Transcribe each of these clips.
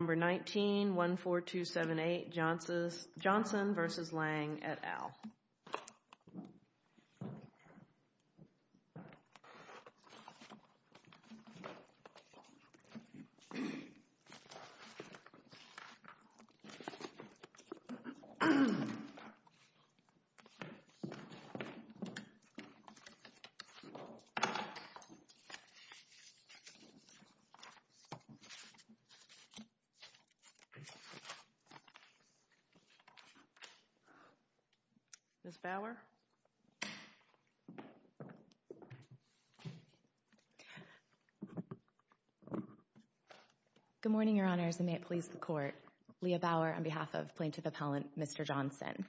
Number 19, 14278 Johnson v. Lang et al. Ms. Bauer? Good morning, Your Honors, and may it please the Court. Leah Bauer on behalf of Plaintiff Appellant Mr. Johnson.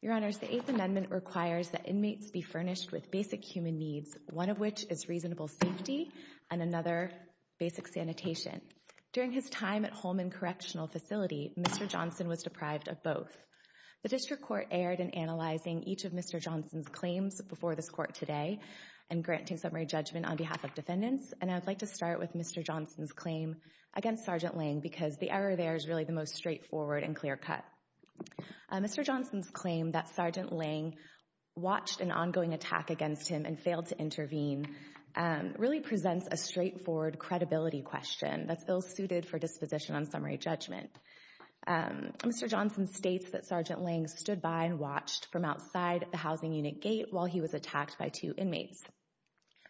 Your Honors, the Eighth Amendment requires that inmates be furnished with basic human needs, one of which is reasonable safety and another basic sanitation. During his time at Holman Correctional Facility, Mr. Johnson was deprived of both. The District Court erred in analyzing each of Mr. Johnson's claims before this Court today and granting summary judgment on behalf of defendants. And I'd like to start with Mr. Johnson's claim against Sergeant Lang because the error there is really the most straightforward and clear-cut. Mr. Johnson's claim that Sergeant Lang watched an ongoing attack against him and failed to intervene really presents a straightforward credibility question that feels suited for disposition on summary judgment. Mr. Johnson states that Sergeant Lang stood by and watched from outside the housing unit gate while he was attacked by two inmates.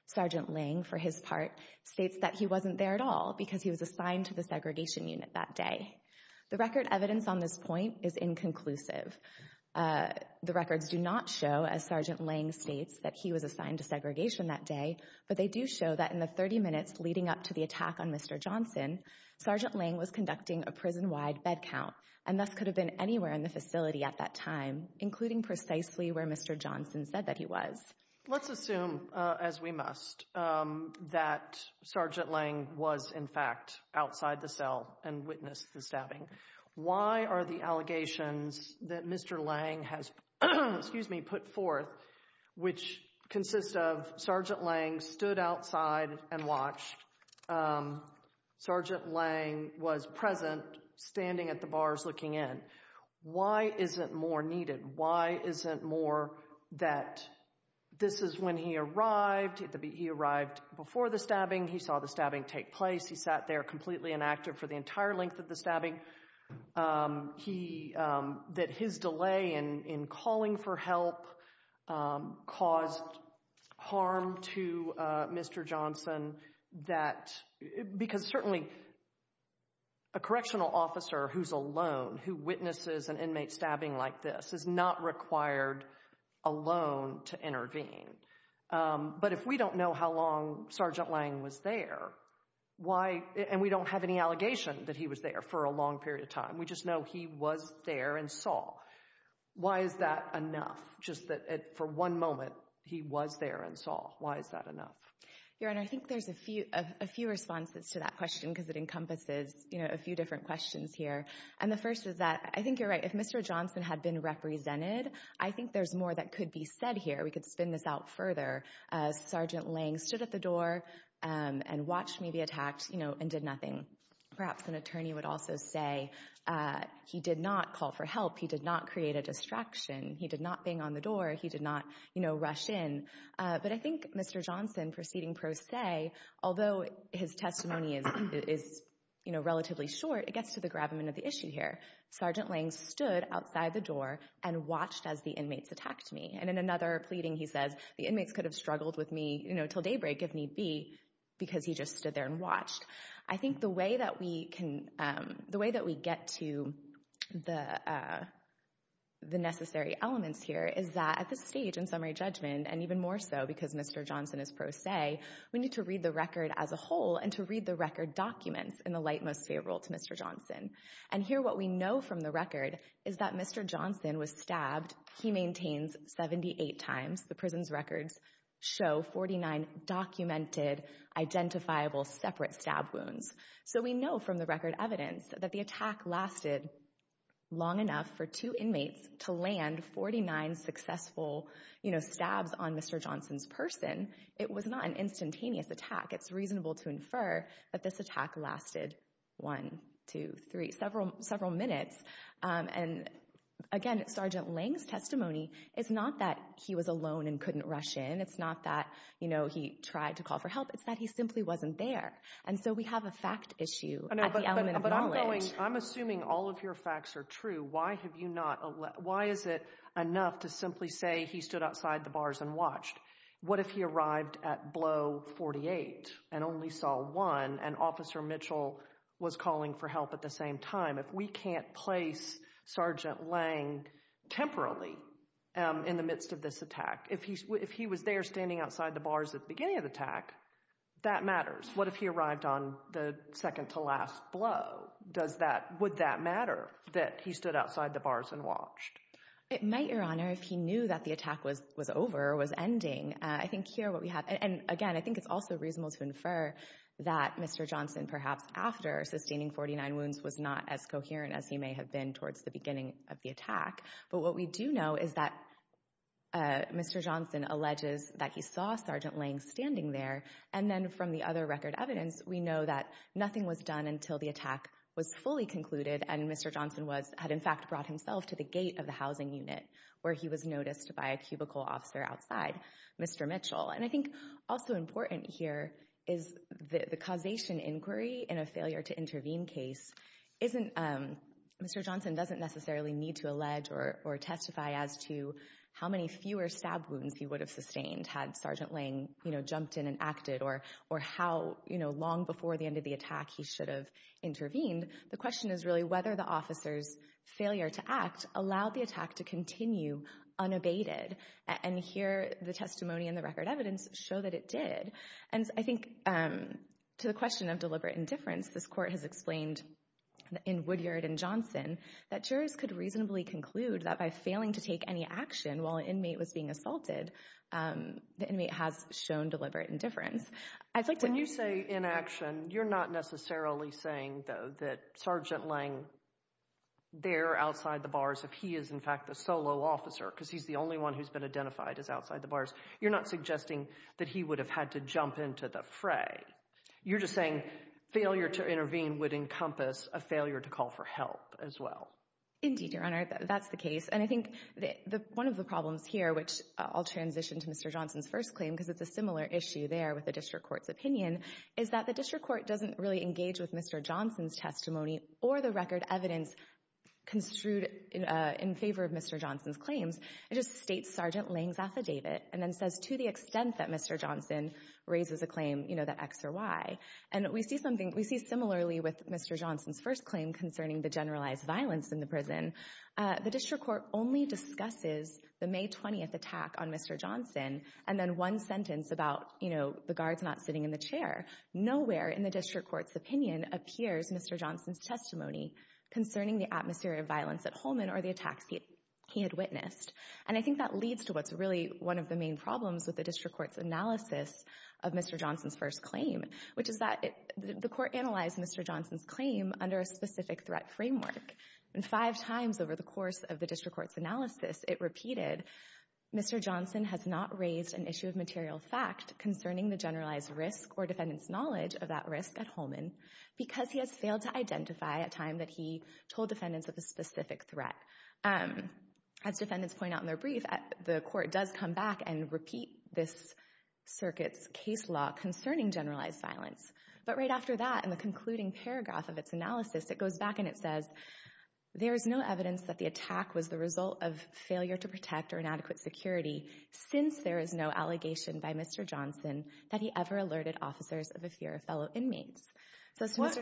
Sergeant Lang, for his part, states that he wasn't there at all because he was assigned to the segregation unit that day. The record evidence on this point is inconclusive. The records do not show, as Sergeant Lang states, that he was assigned to segregation that day, but they do show that in the 30 minutes leading up to the attack on Mr. Johnson, Sergeant Lang was conducting a prison-wide bed count and thus could have been anywhere in the facility at that time, including precisely where Mr. Johnson said that he was. Let's assume, as we must, that Sergeant Lang was, in fact, outside the cell and witnessed the stabbing. Why are the allegations that Mr. Lang has put forth, which consist of Sergeant Lang stood outside and watched, Sergeant Lang was present standing at the bars looking in, why isn't more needed? Why isn't more that this is when he arrived, he arrived before the stabbing, he saw the stabbing take place, he sat there completely inactive for the entire length of the stabbing, that his delay in calling for help caused harm to Mr. Johnson, because certainly a correctional officer who's alone, who witnesses an inmate stabbing like this, is not required alone to intervene. But if we don't know how long Sergeant Lang was there, and we don't have any allegation that he was there for a long period of time, we just know he was there and saw, why is that enough just that for one moment he was there and saw? Why is that enough? Your Honor, I think there's a few responses to that question because it encompasses a few different questions here. And the first is that I think you're right. If Mr. Johnson had been represented, I think there's more that could be said here. We could spin this out further. Sergeant Lang stood at the door and watched me be attacked and did nothing. Perhaps an attorney would also say he did not call for help. He did not create a distraction. He did not bang on the door. He did not rush in. But I think Mr. Johnson, proceeding pro se, although his testimony is relatively short, it gets to the gravamen of the issue here. Sergeant Lang stood outside the door and watched as the inmates attacked me. And in another pleading he says, the inmates could have struggled with me until daybreak if need be because he just stood there and watched. I think the way that we get to the necessary elements here is that at this stage in summary judgment, and even more so because Mr. Johnson is pro se, we need to read the record as a whole and to read the record documents in the light most favorable to Mr. Johnson. In fact, he maintains 78 times. The prison's records show 49 documented, identifiable, separate stab wounds. So we know from the record evidence that the attack lasted long enough for two inmates to land 49 successful stabs on Mr. Johnson's person. It was not an instantaneous attack. It's reasonable to infer that this attack lasted one, two, three, several minutes. Again, Sergeant Lang's testimony is not that he was alone and couldn't rush in. It's not that he tried to call for help. It's that he simply wasn't there. And so we have a fact issue at the element of knowledge. I'm assuming all of your facts are true. Why is it enough to simply say he stood outside the bars and watched? What if he arrived at blow 48 and only saw one and Officer Mitchell was calling for help at the same time? If we can't place Sergeant Lang temporarily in the midst of this attack, if he was there standing outside the bars at the beginning of the attack, that matters. What if he arrived on the second to last blow? Would that matter that he stood outside the bars and watched? It might, Your Honor, if he knew that the attack was over or was ending. I think here what we have—and again, I think it's also reasonable to infer that Mr. Johnson, perhaps after sustaining 49 wounds, was not as coherent as he may have been towards the beginning of the attack. But what we do know is that Mr. Johnson alleges that he saw Sergeant Lang standing there. And then from the other record evidence, we know that nothing was done until the attack was fully concluded and Mr. Johnson had, in fact, brought himself to the gate of the housing unit where he was noticed by a cubicle officer outside, Mr. Mitchell. And I think also important here is the causation inquiry in a failure-to-intervene case isn't— Mr. Johnson doesn't necessarily need to allege or testify as to how many fewer stab wounds he would have sustained had Sergeant Lang jumped in and acted or how long before the end of the attack he should have intervened. The question is really whether the officer's failure to act allowed the attack to continue unabated. And here, the testimony and the record evidence show that it did. And I think to the question of deliberate indifference, this Court has explained in Woodyard and Johnson that jurors could reasonably conclude that by failing to take any action while an inmate was being assaulted, the inmate has shown deliberate indifference. I'd like to— When you say inaction, you're not necessarily saying, though, that Sergeant Lang, there outside the bars, if he is, in fact, the solo officer because he's the only one who's been identified as outside the bars, you're not suggesting that he would have had to jump into the fray. You're just saying failure to intervene would encompass a failure to call for help as well. Indeed, Your Honor, that's the case. And I think one of the problems here, which I'll transition to Mr. Johnson's first claim because it's a similar issue there with the district court's opinion, is that the district court doesn't really engage with Mr. Johnson's testimony or the record evidence construed in favor of Mr. Johnson's claims. It just states Sergeant Lang's affidavit and then says to the extent that Mr. Johnson raises a claim, you know, that X or Y. And we see something—we see similarly with Mr. Johnson's first claim concerning the generalized violence in the prison. The district court only discusses the May 20th attack on Mr. Johnson and then one sentence about, you know, the guards not sitting in the chair. Nowhere in the district court's opinion appears Mr. Johnson's testimony concerning the atmosphere of violence at Holman or the attacks he had witnessed. And I think that leads to what's really one of the main problems with the district court's analysis of Mr. Johnson's first claim, which is that the court analyzed Mr. Johnson's claim under a specific threat framework. And five times over the course of the district court's analysis, it repeated, Mr. Johnson has not raised an issue of material fact concerning the generalized risk or defendant's knowledge of that risk at Holman because he has failed to identify at a time that he told defendants of a specific threat. As defendants point out in their brief, the court does come back and repeat this circuit's case law concerning generalized violence. But right after that, in the concluding paragraph of its analysis, it goes back and it says, there is no evidence that the attack was the result of failure to protect or inadequate security since there is no allegation by Mr. Johnson that he ever alerted officers of a fear of fellow inmates. Let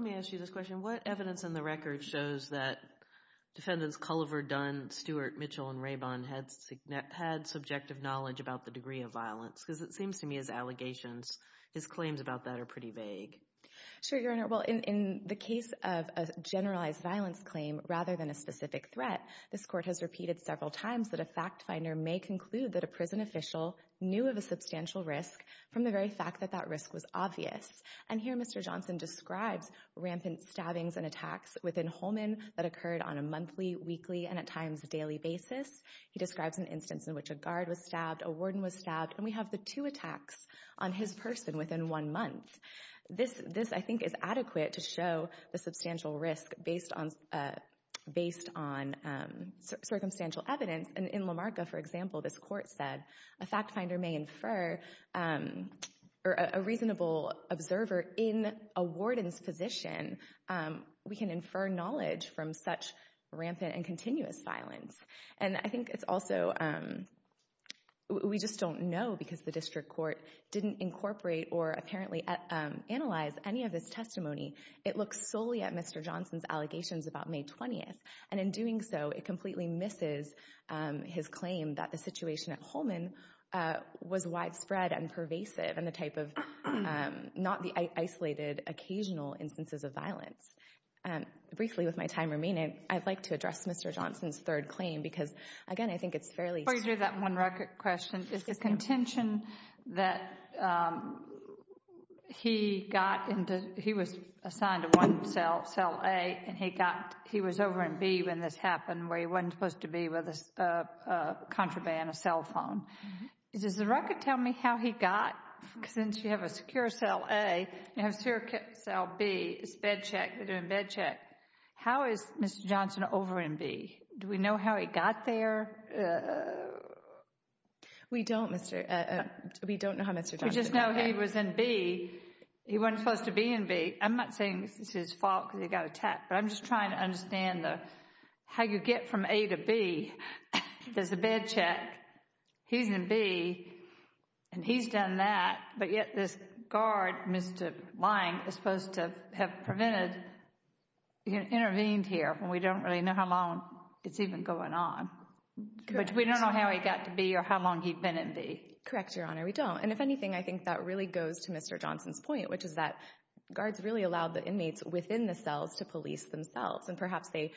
me ask you this question. What evidence in the record shows that defendants Culliver, Dunn, Stewart, Mitchell, and Rabon had subjective knowledge about the degree of violence? Because it seems to me his allegations, his claims about that are pretty vague. Sure, Your Honor. Well, in the case of a generalized violence claim rather than a specific threat, this court has repeated several times that a fact finder may conclude that a prison official knew of a substantial risk from the very fact that that risk was obvious. And here Mr. Johnson describes rampant stabbings and attacks within Holman that occurred on a monthly, weekly, and at times daily basis. He describes an instance in which a guard was stabbed, a warden was stabbed, and we have the two attacks on his person within one month. This, I think, is adequate to show the substantial risk based on circumstantial evidence. And in Lamarca, for example, this court said a fact finder may infer or a reasonable observer in a warden's position, we can infer knowledge from such rampant and continuous violence. And I think it's also, we just don't know because the district court didn't incorporate or apparently analyze any of his testimony. It looks solely at Mr. Johnson's allegations about May 20th. And in doing so, it completely misses his claim that the situation at Holman was widespread and pervasive and the type of not the isolated occasional instances of violence. Briefly, with my time remaining, I'd like to address Mr. Johnson's third claim because, again, I think it's fairly Before you do that one record question, is the contention that he got into, he was assigned to one cell, cell A, and he got, he was over in B when this happened where he wasn't supposed to be with a contraband, a cell phone. Does the record tell me how he got, since you have a secure cell A, you have a secure cell B, it's bed check, they're doing bed check. How is Mr. Johnson over in B? Do we know how he got there? We don't, Mr., we don't know how Mr. Johnson got there. We just know he was in B. He wasn't supposed to be in B. I'm not saying it's his fault because he got attacked, but I'm just trying to understand how you get from A to B. There's a bed check. He's in B. And he's done that. But yet this guard, Mr. Lange, is supposed to have prevented, intervened here, and we don't really know how long it's even going on. But we don't know how he got to B or how long he'd been in B. Correct, Your Honor, we don't. And if anything, I think that really goes to Mr. Johnson's point, which is that guards really allowed the inmates within the cells to police themselves, and perhaps they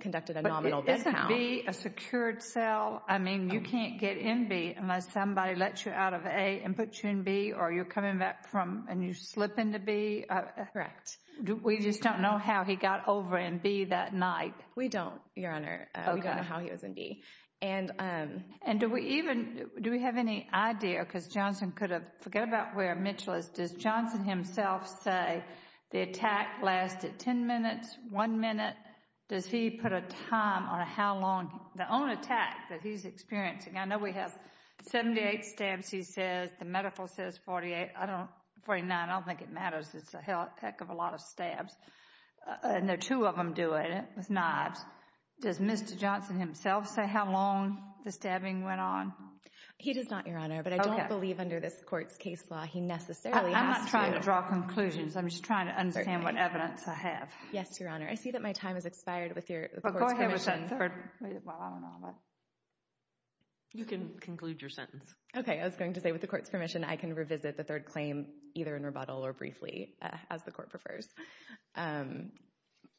conducted a nominal bed count. But isn't B a secured cell? I mean, you can't get in B unless somebody lets you out of A and puts you in B, or you're coming back from and you slip into B. Correct. We just don't know how he got over in B that night. We don't, Your Honor. We don't know how he was in B. And do we even, do we have any idea, because Johnson could have, forget about where Mitchell is, does Johnson himself say the attack lasted 10 minutes, 1 minute? Does he put a time on how long, the own attack that he's experiencing? I know we have 78 stabs, he says. The medical says 48. I don't, 49, I don't think it matters. It's a heck of a lot of stabs. And there are two of them doing it with knives. Does Mr. Johnson himself say how long the stabbing went on? He does not, Your Honor, but I don't believe under this court's case law he necessarily asked you. I'm not trying to draw conclusions. I'm just trying to understand what evidence I have. Yes, Your Honor. I see that my time has expired with the court's permission. Go ahead with your sentence. Well, I don't know. You can conclude your sentence. Okay. I was going to say with the court's permission I can revisit the third claim, either in rebuttal or briefly, as the court prefers.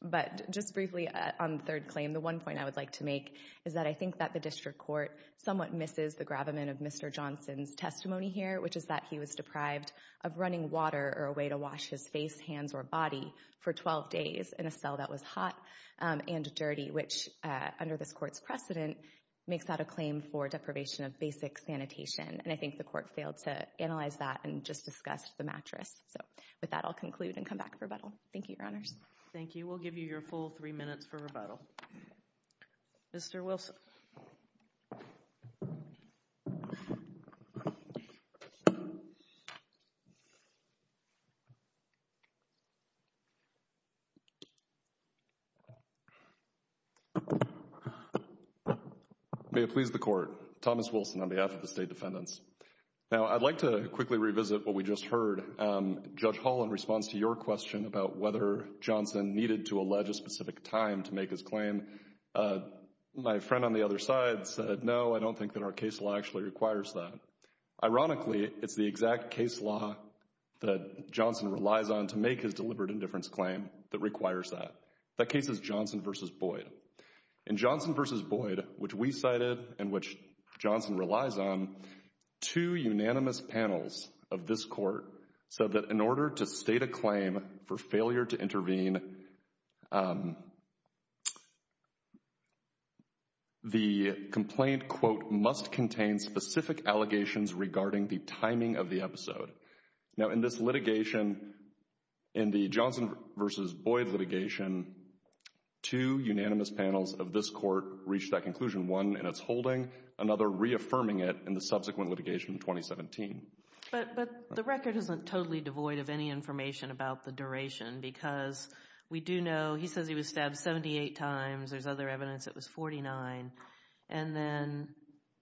But just briefly on the third claim, the one point I would like to make is that I think that the district court somewhat misses the gravamen of Mr. Johnson's testimony here, which is that he was deprived of running water or a way to wash his face, hands, or body for 12 days in a cell that was hot and dirty, which under this court's precedent makes that a claim for deprivation of basic sanitation. And I think the court failed to analyze that and just discussed the mattress. With that, I'll conclude and come back for rebuttal. Thank you, Your Honors. Thank you. We'll give you your full three minutes for rebuttal. Mr. Wilson. May it please the Court. Thomas Wilson on behalf of the State Defendants. Now, I'd like to quickly revisit what we just heard. Judge Hall, in response to your question about whether Johnson needed to allege a specific time to make his claim, my friend on the other side said, no, I don't think that our case law actually requires that. Ironically, it's the exact case law that Johnson relies on to make his deliberate indifference claim that requires that. That case is Johnson v. Boyd. In Johnson v. Boyd, which we cited and which Johnson relies on, two unanimous panels of this court said that in order to state a claim for failure to intervene, the complaint, quote, must contain specific allegations regarding the timing of the episode. Now, in this litigation, in the Johnson v. Boyd litigation, two unanimous panels of this court reached that conclusion, one in its holding, another reaffirming it in the subsequent litigation in 2017. But the record isn't totally devoid of any information about the duration because we do know he says he was stabbed 78 times. There's other evidence it was 49. And then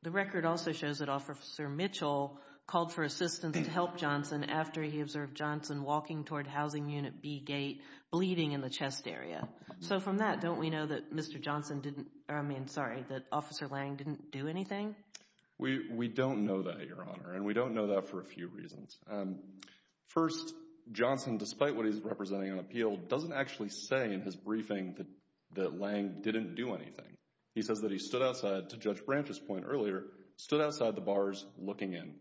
the record also shows that Officer Mitchell called for assistance to help Johnson after he observed Johnson walking toward housing unit B Gate bleeding in the chest area. So from that, don't we know that Mr. Johnson didn't – I mean, sorry, that Officer Lang didn't do anything? We don't know that, Your Honor. And we don't know that for a few reasons. First, Johnson, despite what he's representing on appeal, doesn't actually say in his briefing that Lang didn't do anything. He says that he stood outside, to Judge Branch's point earlier, stood outside the bars looking in.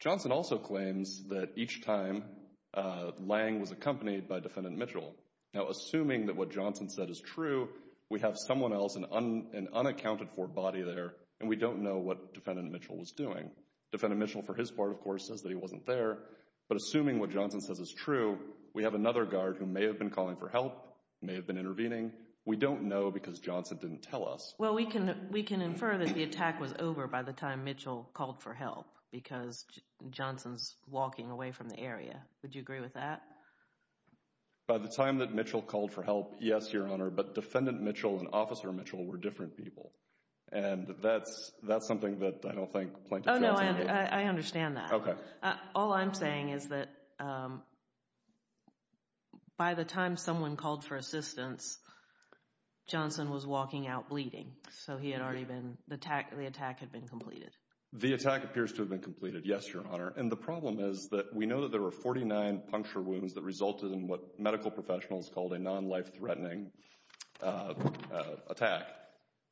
Johnson also claims that each time Lang was accompanied by Defendant Mitchell. Now, assuming that what Johnson said is true, we have someone else, an unaccounted-for body there, and we don't know what Defendant Mitchell was doing. Defendant Mitchell, for his part, of course, says that he wasn't there. But assuming what Johnson says is true, we have another guard who may have been calling for help, may have been intervening. We don't know because Johnson didn't tell us. Well, we can infer that the attack was over by the time Mitchell called for help because Johnson's walking away from the area. Would you agree with that? By the time that Mitchell called for help, yes, Your Honor, but Defendant Mitchell and Officer Mitchell were different people. And that's something that I don't think Plaintiff Johnson— Oh, no, I understand that. Okay. All I'm saying is that by the time someone called for assistance, Johnson was walking out bleeding. So he had already been—the attack had been completed. The attack appears to have been completed, yes, Your Honor. And the problem is that we know that there were 49 puncture wounds that resulted in what medical professionals called a non-life-threatening attack.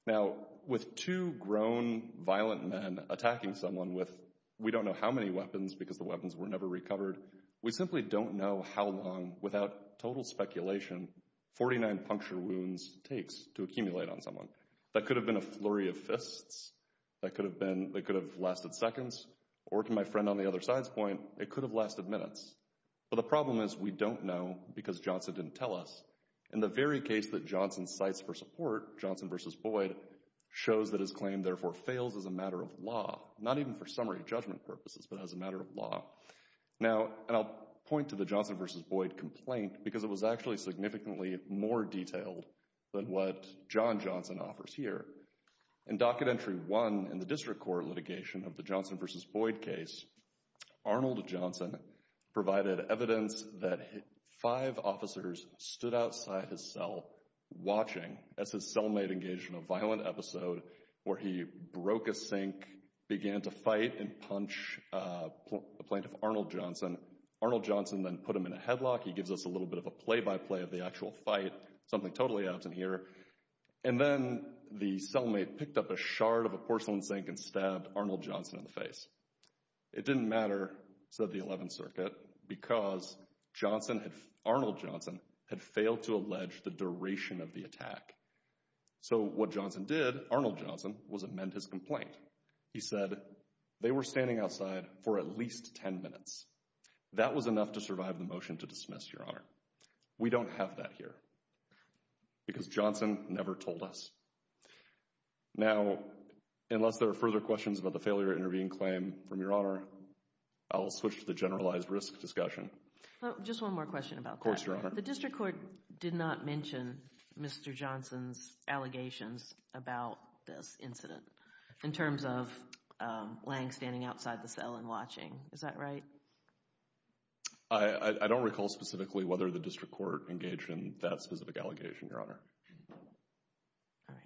Now, with two grown, violent men attacking someone with we don't know how many weapons because the weapons were never recovered, we simply don't know how long, without total speculation, 49 puncture wounds takes to accumulate on someone. That could have been a flurry of fists. That could have been—that could have lasted seconds. Or, to my friend on the other side's point, it could have lasted minutes. But the problem is we don't know because Johnson didn't tell us. In the very case that Johnson cites for support, Johnson v. Boyd, shows that his claim therefore fails as a matter of law. Not even for summary judgment purposes, but as a matter of law. Now, and I'll point to the Johnson v. Boyd complaint because it was actually significantly more detailed than what John Johnson offers here. In Docket Entry 1 in the District Court litigation of the Johnson v. Boyd case, Arnold Johnson provided evidence that five officers stood outside his cell watching as his cellmate engaged in a violent episode where he broke a sink, began to fight and punch a plaintiff, Arnold Johnson. Arnold Johnson then put him in a headlock. He gives us a little bit of a play-by-play of the actual fight, something totally absent here. And then the cellmate picked up a shard of a porcelain sink and stabbed Arnold Johnson in the face. It didn't matter, said the 11th Circuit, because Johnson had—Arnold Johnson had failed to allege the duration of the attack. So what Johnson did, Arnold Johnson, was amend his complaint. He said they were standing outside for at least 10 minutes. That was enough to survive the motion to dismiss, Your Honor. We don't have that here because Johnson never told us. Now, unless there are further questions about the failure to intervene claim from Your Honor, I will switch to the generalized risk discussion. Just one more question about that. Of course, Your Honor. The District Court did not mention Mr. Johnson's allegations about this incident in terms of Lange standing outside the cell and watching. Is that right? I don't recall specifically whether the District Court engaged in that specific allegation, Your Honor. All right.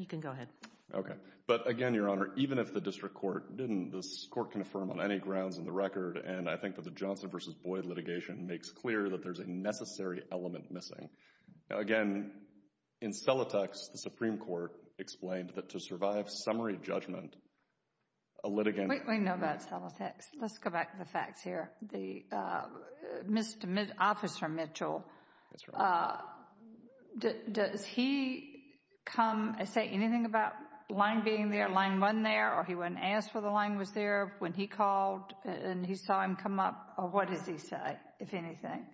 You can go ahead. Okay. But again, Your Honor, even if the District Court didn't, this Court can affirm on any grounds in the record, and I think that the Johnson v. Boyd litigation makes clear that there's a necessary element missing. Again, in Celotex, the Supreme Court explained that to survive summary judgment, a litigant— We know about Celotex. Let's go back to the facts here. Officer Mitchell, does he come and say anything about Lange being there, Lange wasn't there, or he wouldn't ask for the Lange was there when he called and he saw him come up? Or what does he say, if anything?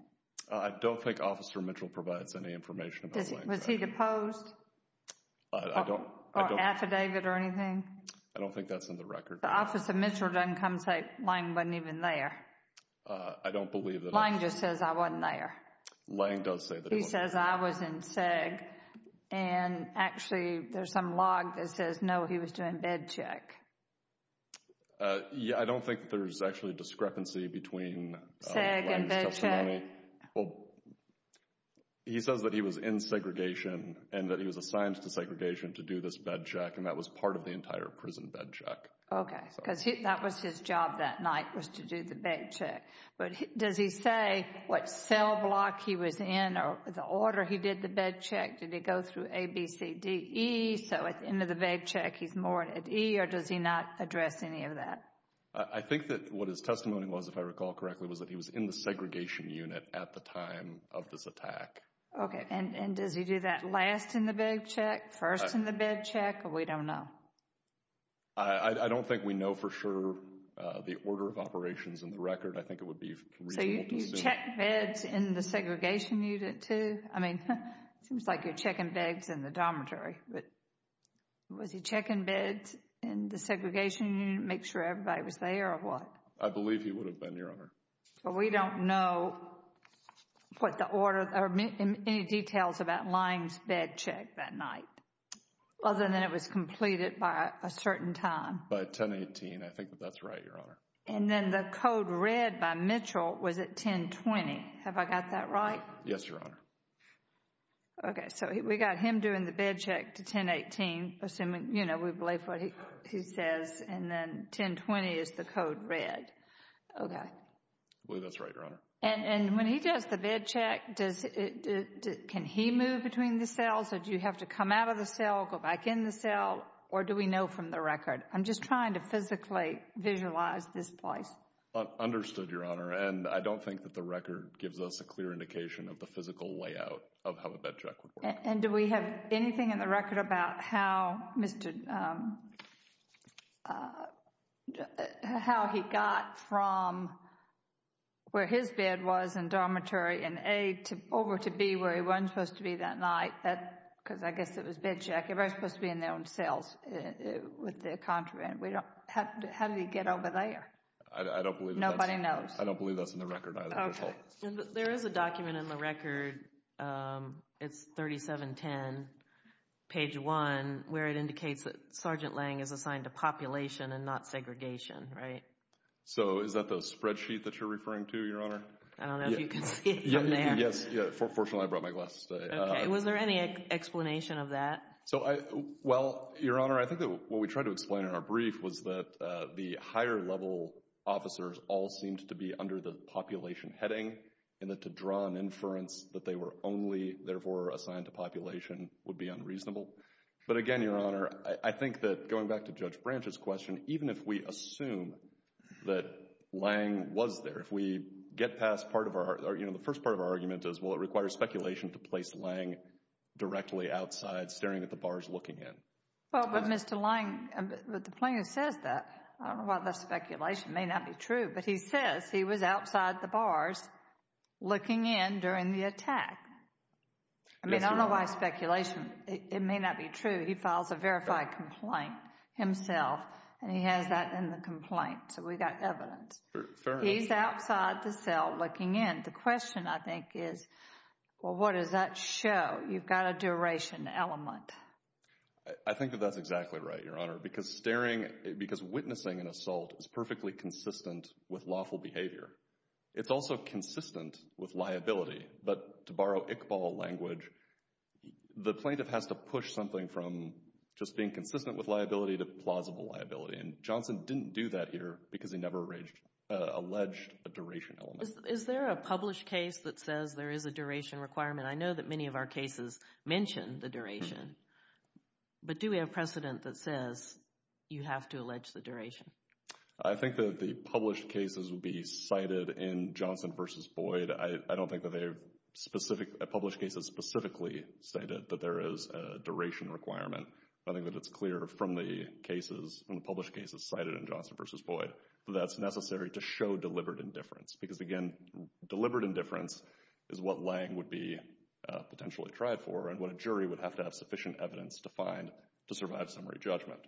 I don't think Officer Mitchell provides any information about Lange. Was he deposed? I don't— Or affidavit or anything? I don't think that's in the record. But Officer Mitchell doesn't come and say Lange wasn't even there. I don't believe that— Lange just says I wasn't there. Lange does say that he wasn't there. He says I was in SEG, and actually there's some log that says, no, he was doing bed check. Yeah, I don't think there's actually a discrepancy between Lange's testimony. SEG and bed check? Well, he says that he was in segregation and that he was assigned to segregation to do this bed check, and that was part of the entire prison bed check. Okay, because that was his job that night was to do the bed check. But does he say what cell block he was in or the order he did the bed check? Did he go through A, B, C, D, E? So at the end of the bed check, he's more at E, or does he not address any of that? I think that what his testimony was, if I recall correctly, was that he was in the segregation unit at the time of this attack. Okay, and does he do that last in the bed check, first in the bed check? Or we don't know? I don't think we know for sure the order of operations in the record. I think it would be reasonable to assume. So you checked beds in the segregation unit too? I mean, it seems like you're checking beds in the dormitory. But was he checking beds in the segregation unit to make sure everybody was there or what? I believe he would have been, Your Honor. But we don't know what the order or any details about Lange's bed check that night. Other than it was completed by a certain time. By 1018, I think that that's right, Your Honor. And then the code red by Mitchell was at 1020. Have I got that right? Yes, Your Honor. Okay, so we got him doing the bed check to 1018, assuming, you know, we believe what he says. And then 1020 is the code red. Okay. I believe that's right, Your Honor. And when he does the bed check, can he move between the cells? Or do you have to come out of the cell, go back in the cell? Or do we know from the record? I'm just trying to physically visualize this place. Understood, Your Honor. And I don't think that the record gives us a clear indication of the physical layout of how the bed check would work. And do we have anything in the record about how he got from where his bed was in dormitory in A over to B where he wasn't supposed to be that night? Because I guess it was bed check. Everybody's supposed to be in their own cells with the contraband. How did he get over there? I don't believe that's in the record. Nobody knows. I don't believe that's in the record either, Your Honor. There is a document in the record. It's 3710, page 1, where it indicates that Sergeant Lange is assigned to population and not segregation, right? So is that the spreadsheet that you're referring to, Your Honor? I don't know if you can see it from there. Yes. Fortunately, I brought my glasses today. Okay. Was there any explanation of that? Well, Your Honor, I think that what we tried to explain in our brief was that the higher level officers all seemed to be under the population heading and that to draw an inference that they were only, therefore, assigned to population would be unreasonable. But again, Your Honor, I think that going back to Judge Branch's question, even if we assume that Lange was there, if we get past part of our, you know, the first part of our argument is, well, it requires speculation to place Lange directly outside staring at the bars looking in. Well, but Mr. Lange, but the plaintiff says that. I don't know why that's speculation. It may not be true. But he says he was outside the bars looking in during the attack. I mean, I don't know why it's speculation. It may not be true. He files a verified complaint himself, and he has that in the complaint. So we've got evidence. He's outside the cell looking in. The question, I think, is, well, what does that show? You've got a duration element. I think that that's exactly right, Your Honor, because staring, because witnessing an assault is perfectly consistent with lawful behavior. It's also consistent with liability. But to borrow Iqbal language, the plaintiff has to push something from just being consistent with liability to plausible liability. And Johnson didn't do that here because he never alleged a duration element. Is there a published case that says there is a duration requirement? I know that many of our cases mention the duration. But do we have precedent that says you have to allege the duration? I think that the published cases would be cited in Johnson v. Boyd. I don't think that they have a published case that specifically stated that there is a duration requirement. I think that it's clear from the cases, from the published cases cited in Johnson v. Boyd that that's necessary to show deliberate indifference. Because, again, deliberate indifference is what Lange would be potentially tried for and what a jury would have to have sufficient evidence to find to survive summary judgment.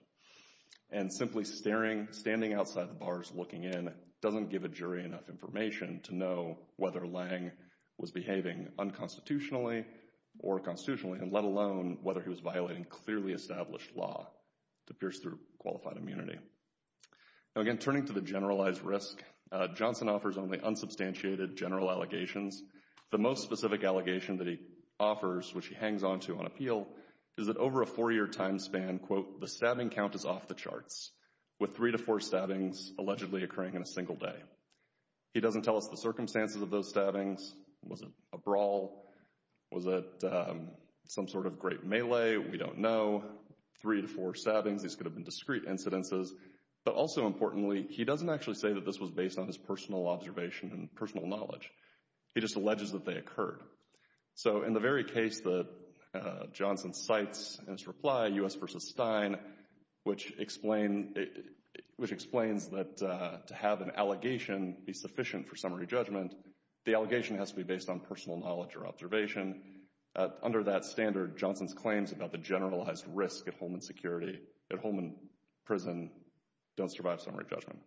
And simply staring, standing outside the bars looking in doesn't give a jury enough information to know whether Lange was behaving unconstitutionally or constitutionally, and let alone whether he was violating clearly established law to pierce through qualified immunity. Now, again, turning to the generalized risk, Johnson offers only unsubstantiated general allegations. The most specific allegation that he offers, which he hangs onto on appeal, is that over a four-year time span, quote, the stabbing count is off the charts, with three to four stabbings allegedly occurring in a single day. He doesn't tell us the circumstances of those stabbings. Was it a brawl? Was it some sort of great melee? We don't know. Three to four stabbings, these could have been discrete incidences. But also importantly, he doesn't actually say that this was based on his personal observation and personal knowledge. He just alleges that they occurred. So in the very case that Johnson cites in his reply, U.S. v. Stein, which explains that to have an allegation be sufficient for summary judgment, the allegation has to be based on personal knowledge or observation. Under that standard, Johnson's claims about the generalized risk at Holman prison don't survive summary judgment.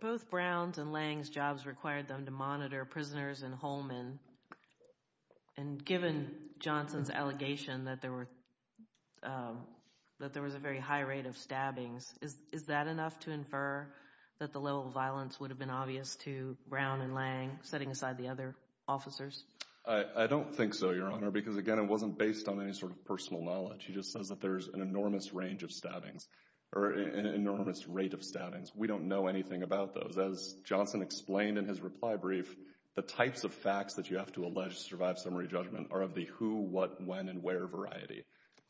Both Brown's and Lange's jobs required them to monitor prisoners in Holman, and given Johnson's allegation that there was a very high rate of stabbings, is that enough to infer that the level of violence would have been obvious to Brown and Lange, setting aside the other officers? I don't think so, Your Honor, because again, it wasn't based on any sort of personal knowledge. He just says that there's an enormous range of stabbings, or an enormous rate of stabbings. We don't know anything about those. As Johnson explained in his reply brief, the types of facts that you have to allege to survive summary judgment are of the who, what, when, and where variety.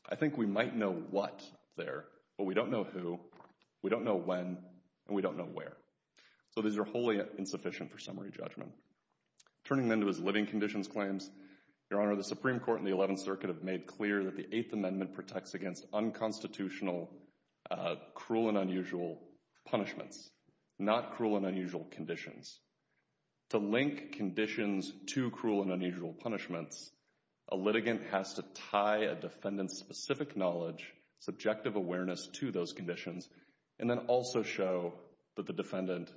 I think we might know what there, but we don't know who, we don't know when, and we don't know where. So these are wholly insufficient for summary judgment. Turning then to his living conditions claims, Your Honor, the Supreme Court and the Eleventh Circuit have made clear that the Eighth Amendment protects against unconstitutional, cruel and unusual punishments, not cruel and unusual conditions. To link conditions to cruel and unusual punishments, a litigant has to tie a defendant's specific knowledge, subjective awareness to those conditions, and then also show that the defendant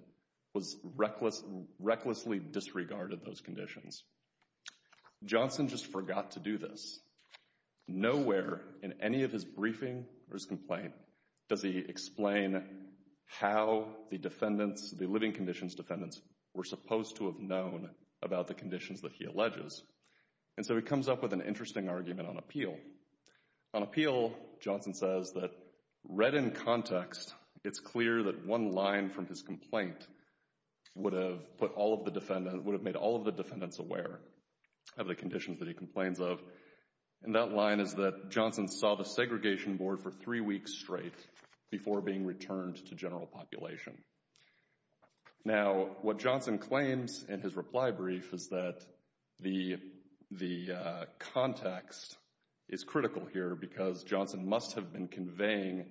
was recklessly disregarded those conditions. Johnson just forgot to do this. Nowhere in any of his briefing or his complaint does he explain how the defendants, the living conditions defendants, were supposed to have known about the conditions that he alleges. And so he comes up with an interesting argument on appeal. On appeal, Johnson says that read in context, it's clear that one line from his complaint would have put all of the defendants, would have made all of the defendants aware of the conditions that he complains of. And that line is that Johnson saw the segregation board for three weeks straight before being returned to general population. Now, what Johnson claims in his reply brief is that the context is critical here because Johnson must have been conveying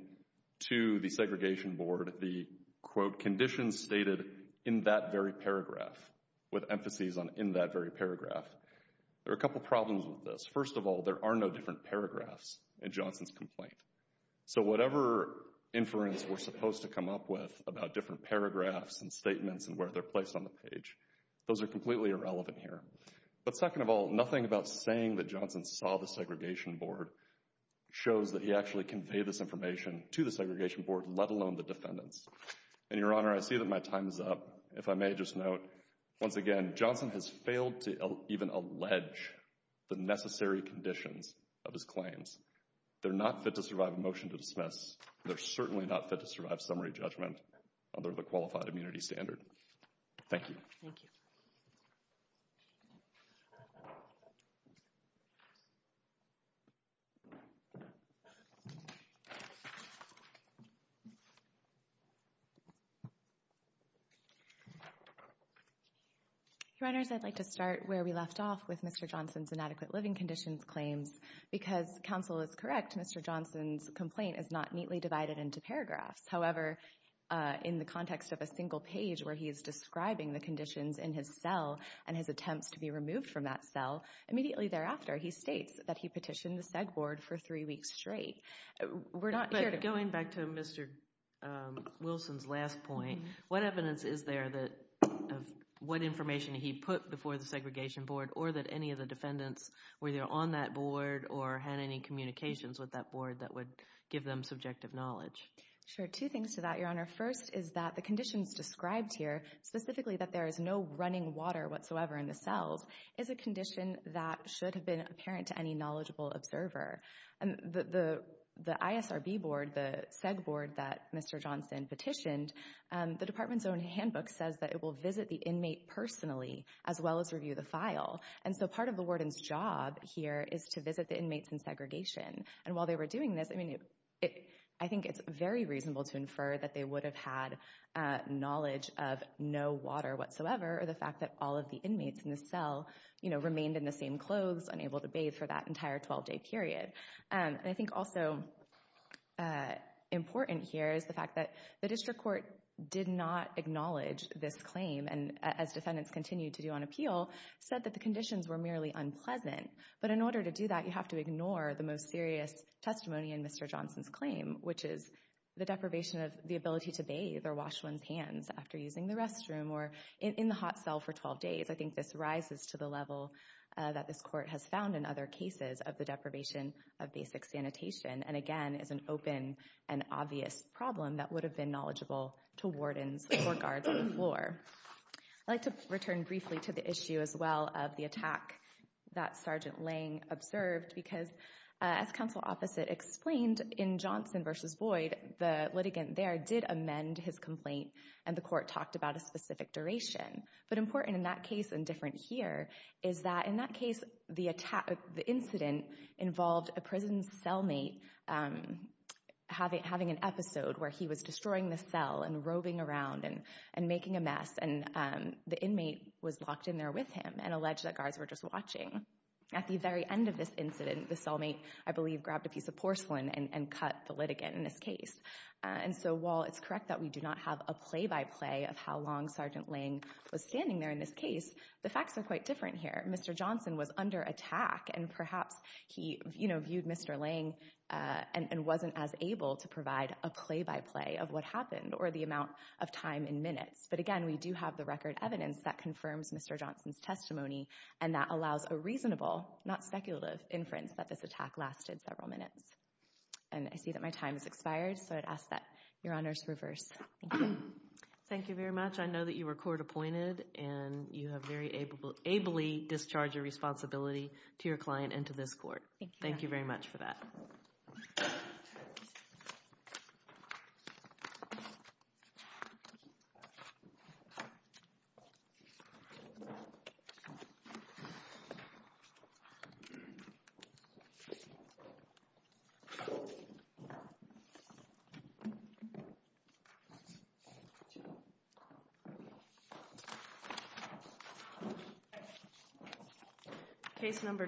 to the segregation board the, quote, conditions stated in that very paragraph, with emphases on in that very paragraph. There are a couple problems with this. First of all, there are no different paragraphs in Johnson's complaint. So whatever inference we're supposed to come up with about different paragraphs and statements and where they're placed on the page, those are completely irrelevant here. But second of all, nothing about saying that Johnson saw the segregation board shows that he actually conveyed this information to the segregation board, let alone the defendants. And, Your Honor, I see that my time is up. If I may just note, once again, Johnson has failed to even allege the necessary conditions of his claims. They're not fit to survive a motion to dismiss. They're certainly not fit to survive summary judgment under the qualified immunity standard. Thank you. Thank you. Your Honors, I'd like to start where we left off with Mr. Johnson's inadequate living conditions claims. Because counsel is correct, Mr. Johnson's complaint is not neatly divided into paragraphs. However, in the context of a single page where he is describing the conditions in his cell and his attempts to be removed from that cell, immediately thereafter he states that he petitioned the seg board for three weeks straight. But going back to Mr. Wilson's last point, what evidence is there of what information he put before the segregation board or that any of the defendants were there on that board or had any communications with that board that would give them subjective knowledge? Sure. Two things to that, Your Honor. First is that the conditions described here, specifically that there is no running water whatsoever in the cells, is a condition that should have been apparent to any knowledgeable observer. The ISRB board, the seg board that Mr. Johnson petitioned, the department's own handbook says that it will visit the inmate personally as well as review the file. And so part of the warden's job here is to visit the inmates in segregation. And while they were doing this, I think it's very reasonable to infer that they would have had knowledge of no water whatsoever or the fact that all of the inmates in the cell remained in the same clothes, unable to bathe for that entire 12-day period. And I think also important here is the fact that the district court did not acknowledge this claim. And as defendants continued to do on appeal, said that the conditions were merely unpleasant. But in order to do that, you have to ignore the most serious testimony in Mr. Johnson's claim, which is the deprivation of the ability to bathe or wash one's hands after using the restroom or in the hot cell for 12 days. I think this rises to the level that this court has found in other cases of the deprivation of basic sanitation and, again, is an open and obvious problem that would have been knowledgeable to wardens or guards before. I'd like to return briefly to the issue as well of the attack that Sergeant Lang observed because, as counsel opposite explained, in Johnson v. Boyd, the litigant there did amend his complaint and the court talked about a specific duration. But important in that case and different here is that in that case, the incident involved a prison cellmate having an episode where he was destroying the cell and roving around and making a mess. And the inmate was locked in there with him and alleged that guards were just watching. At the very end of this incident, the cellmate, I believe, grabbed a piece of porcelain and cut the litigant in this case. And so while it's correct that we do not have a play-by-play of how long Sergeant Lang was standing there in this case, the facts are quite different here. Mr. Johnson was under attack and perhaps he, you know, viewed Mr. Lang and wasn't as able to provide a play-by-play of what happened or the amount of time in minutes. But, again, we do have the record evidence that confirms Mr. Johnson's testimony and that allows a reasonable, not speculative, inference that this attack lasted several minutes. And I see that my time has expired, so I'd ask that Your Honors reverse. Thank you. Thank you very much. I know that you were court appointed and you have very ably discharged your responsibility to your client and to this court. Thank you. Thank you very much for that. Thank you.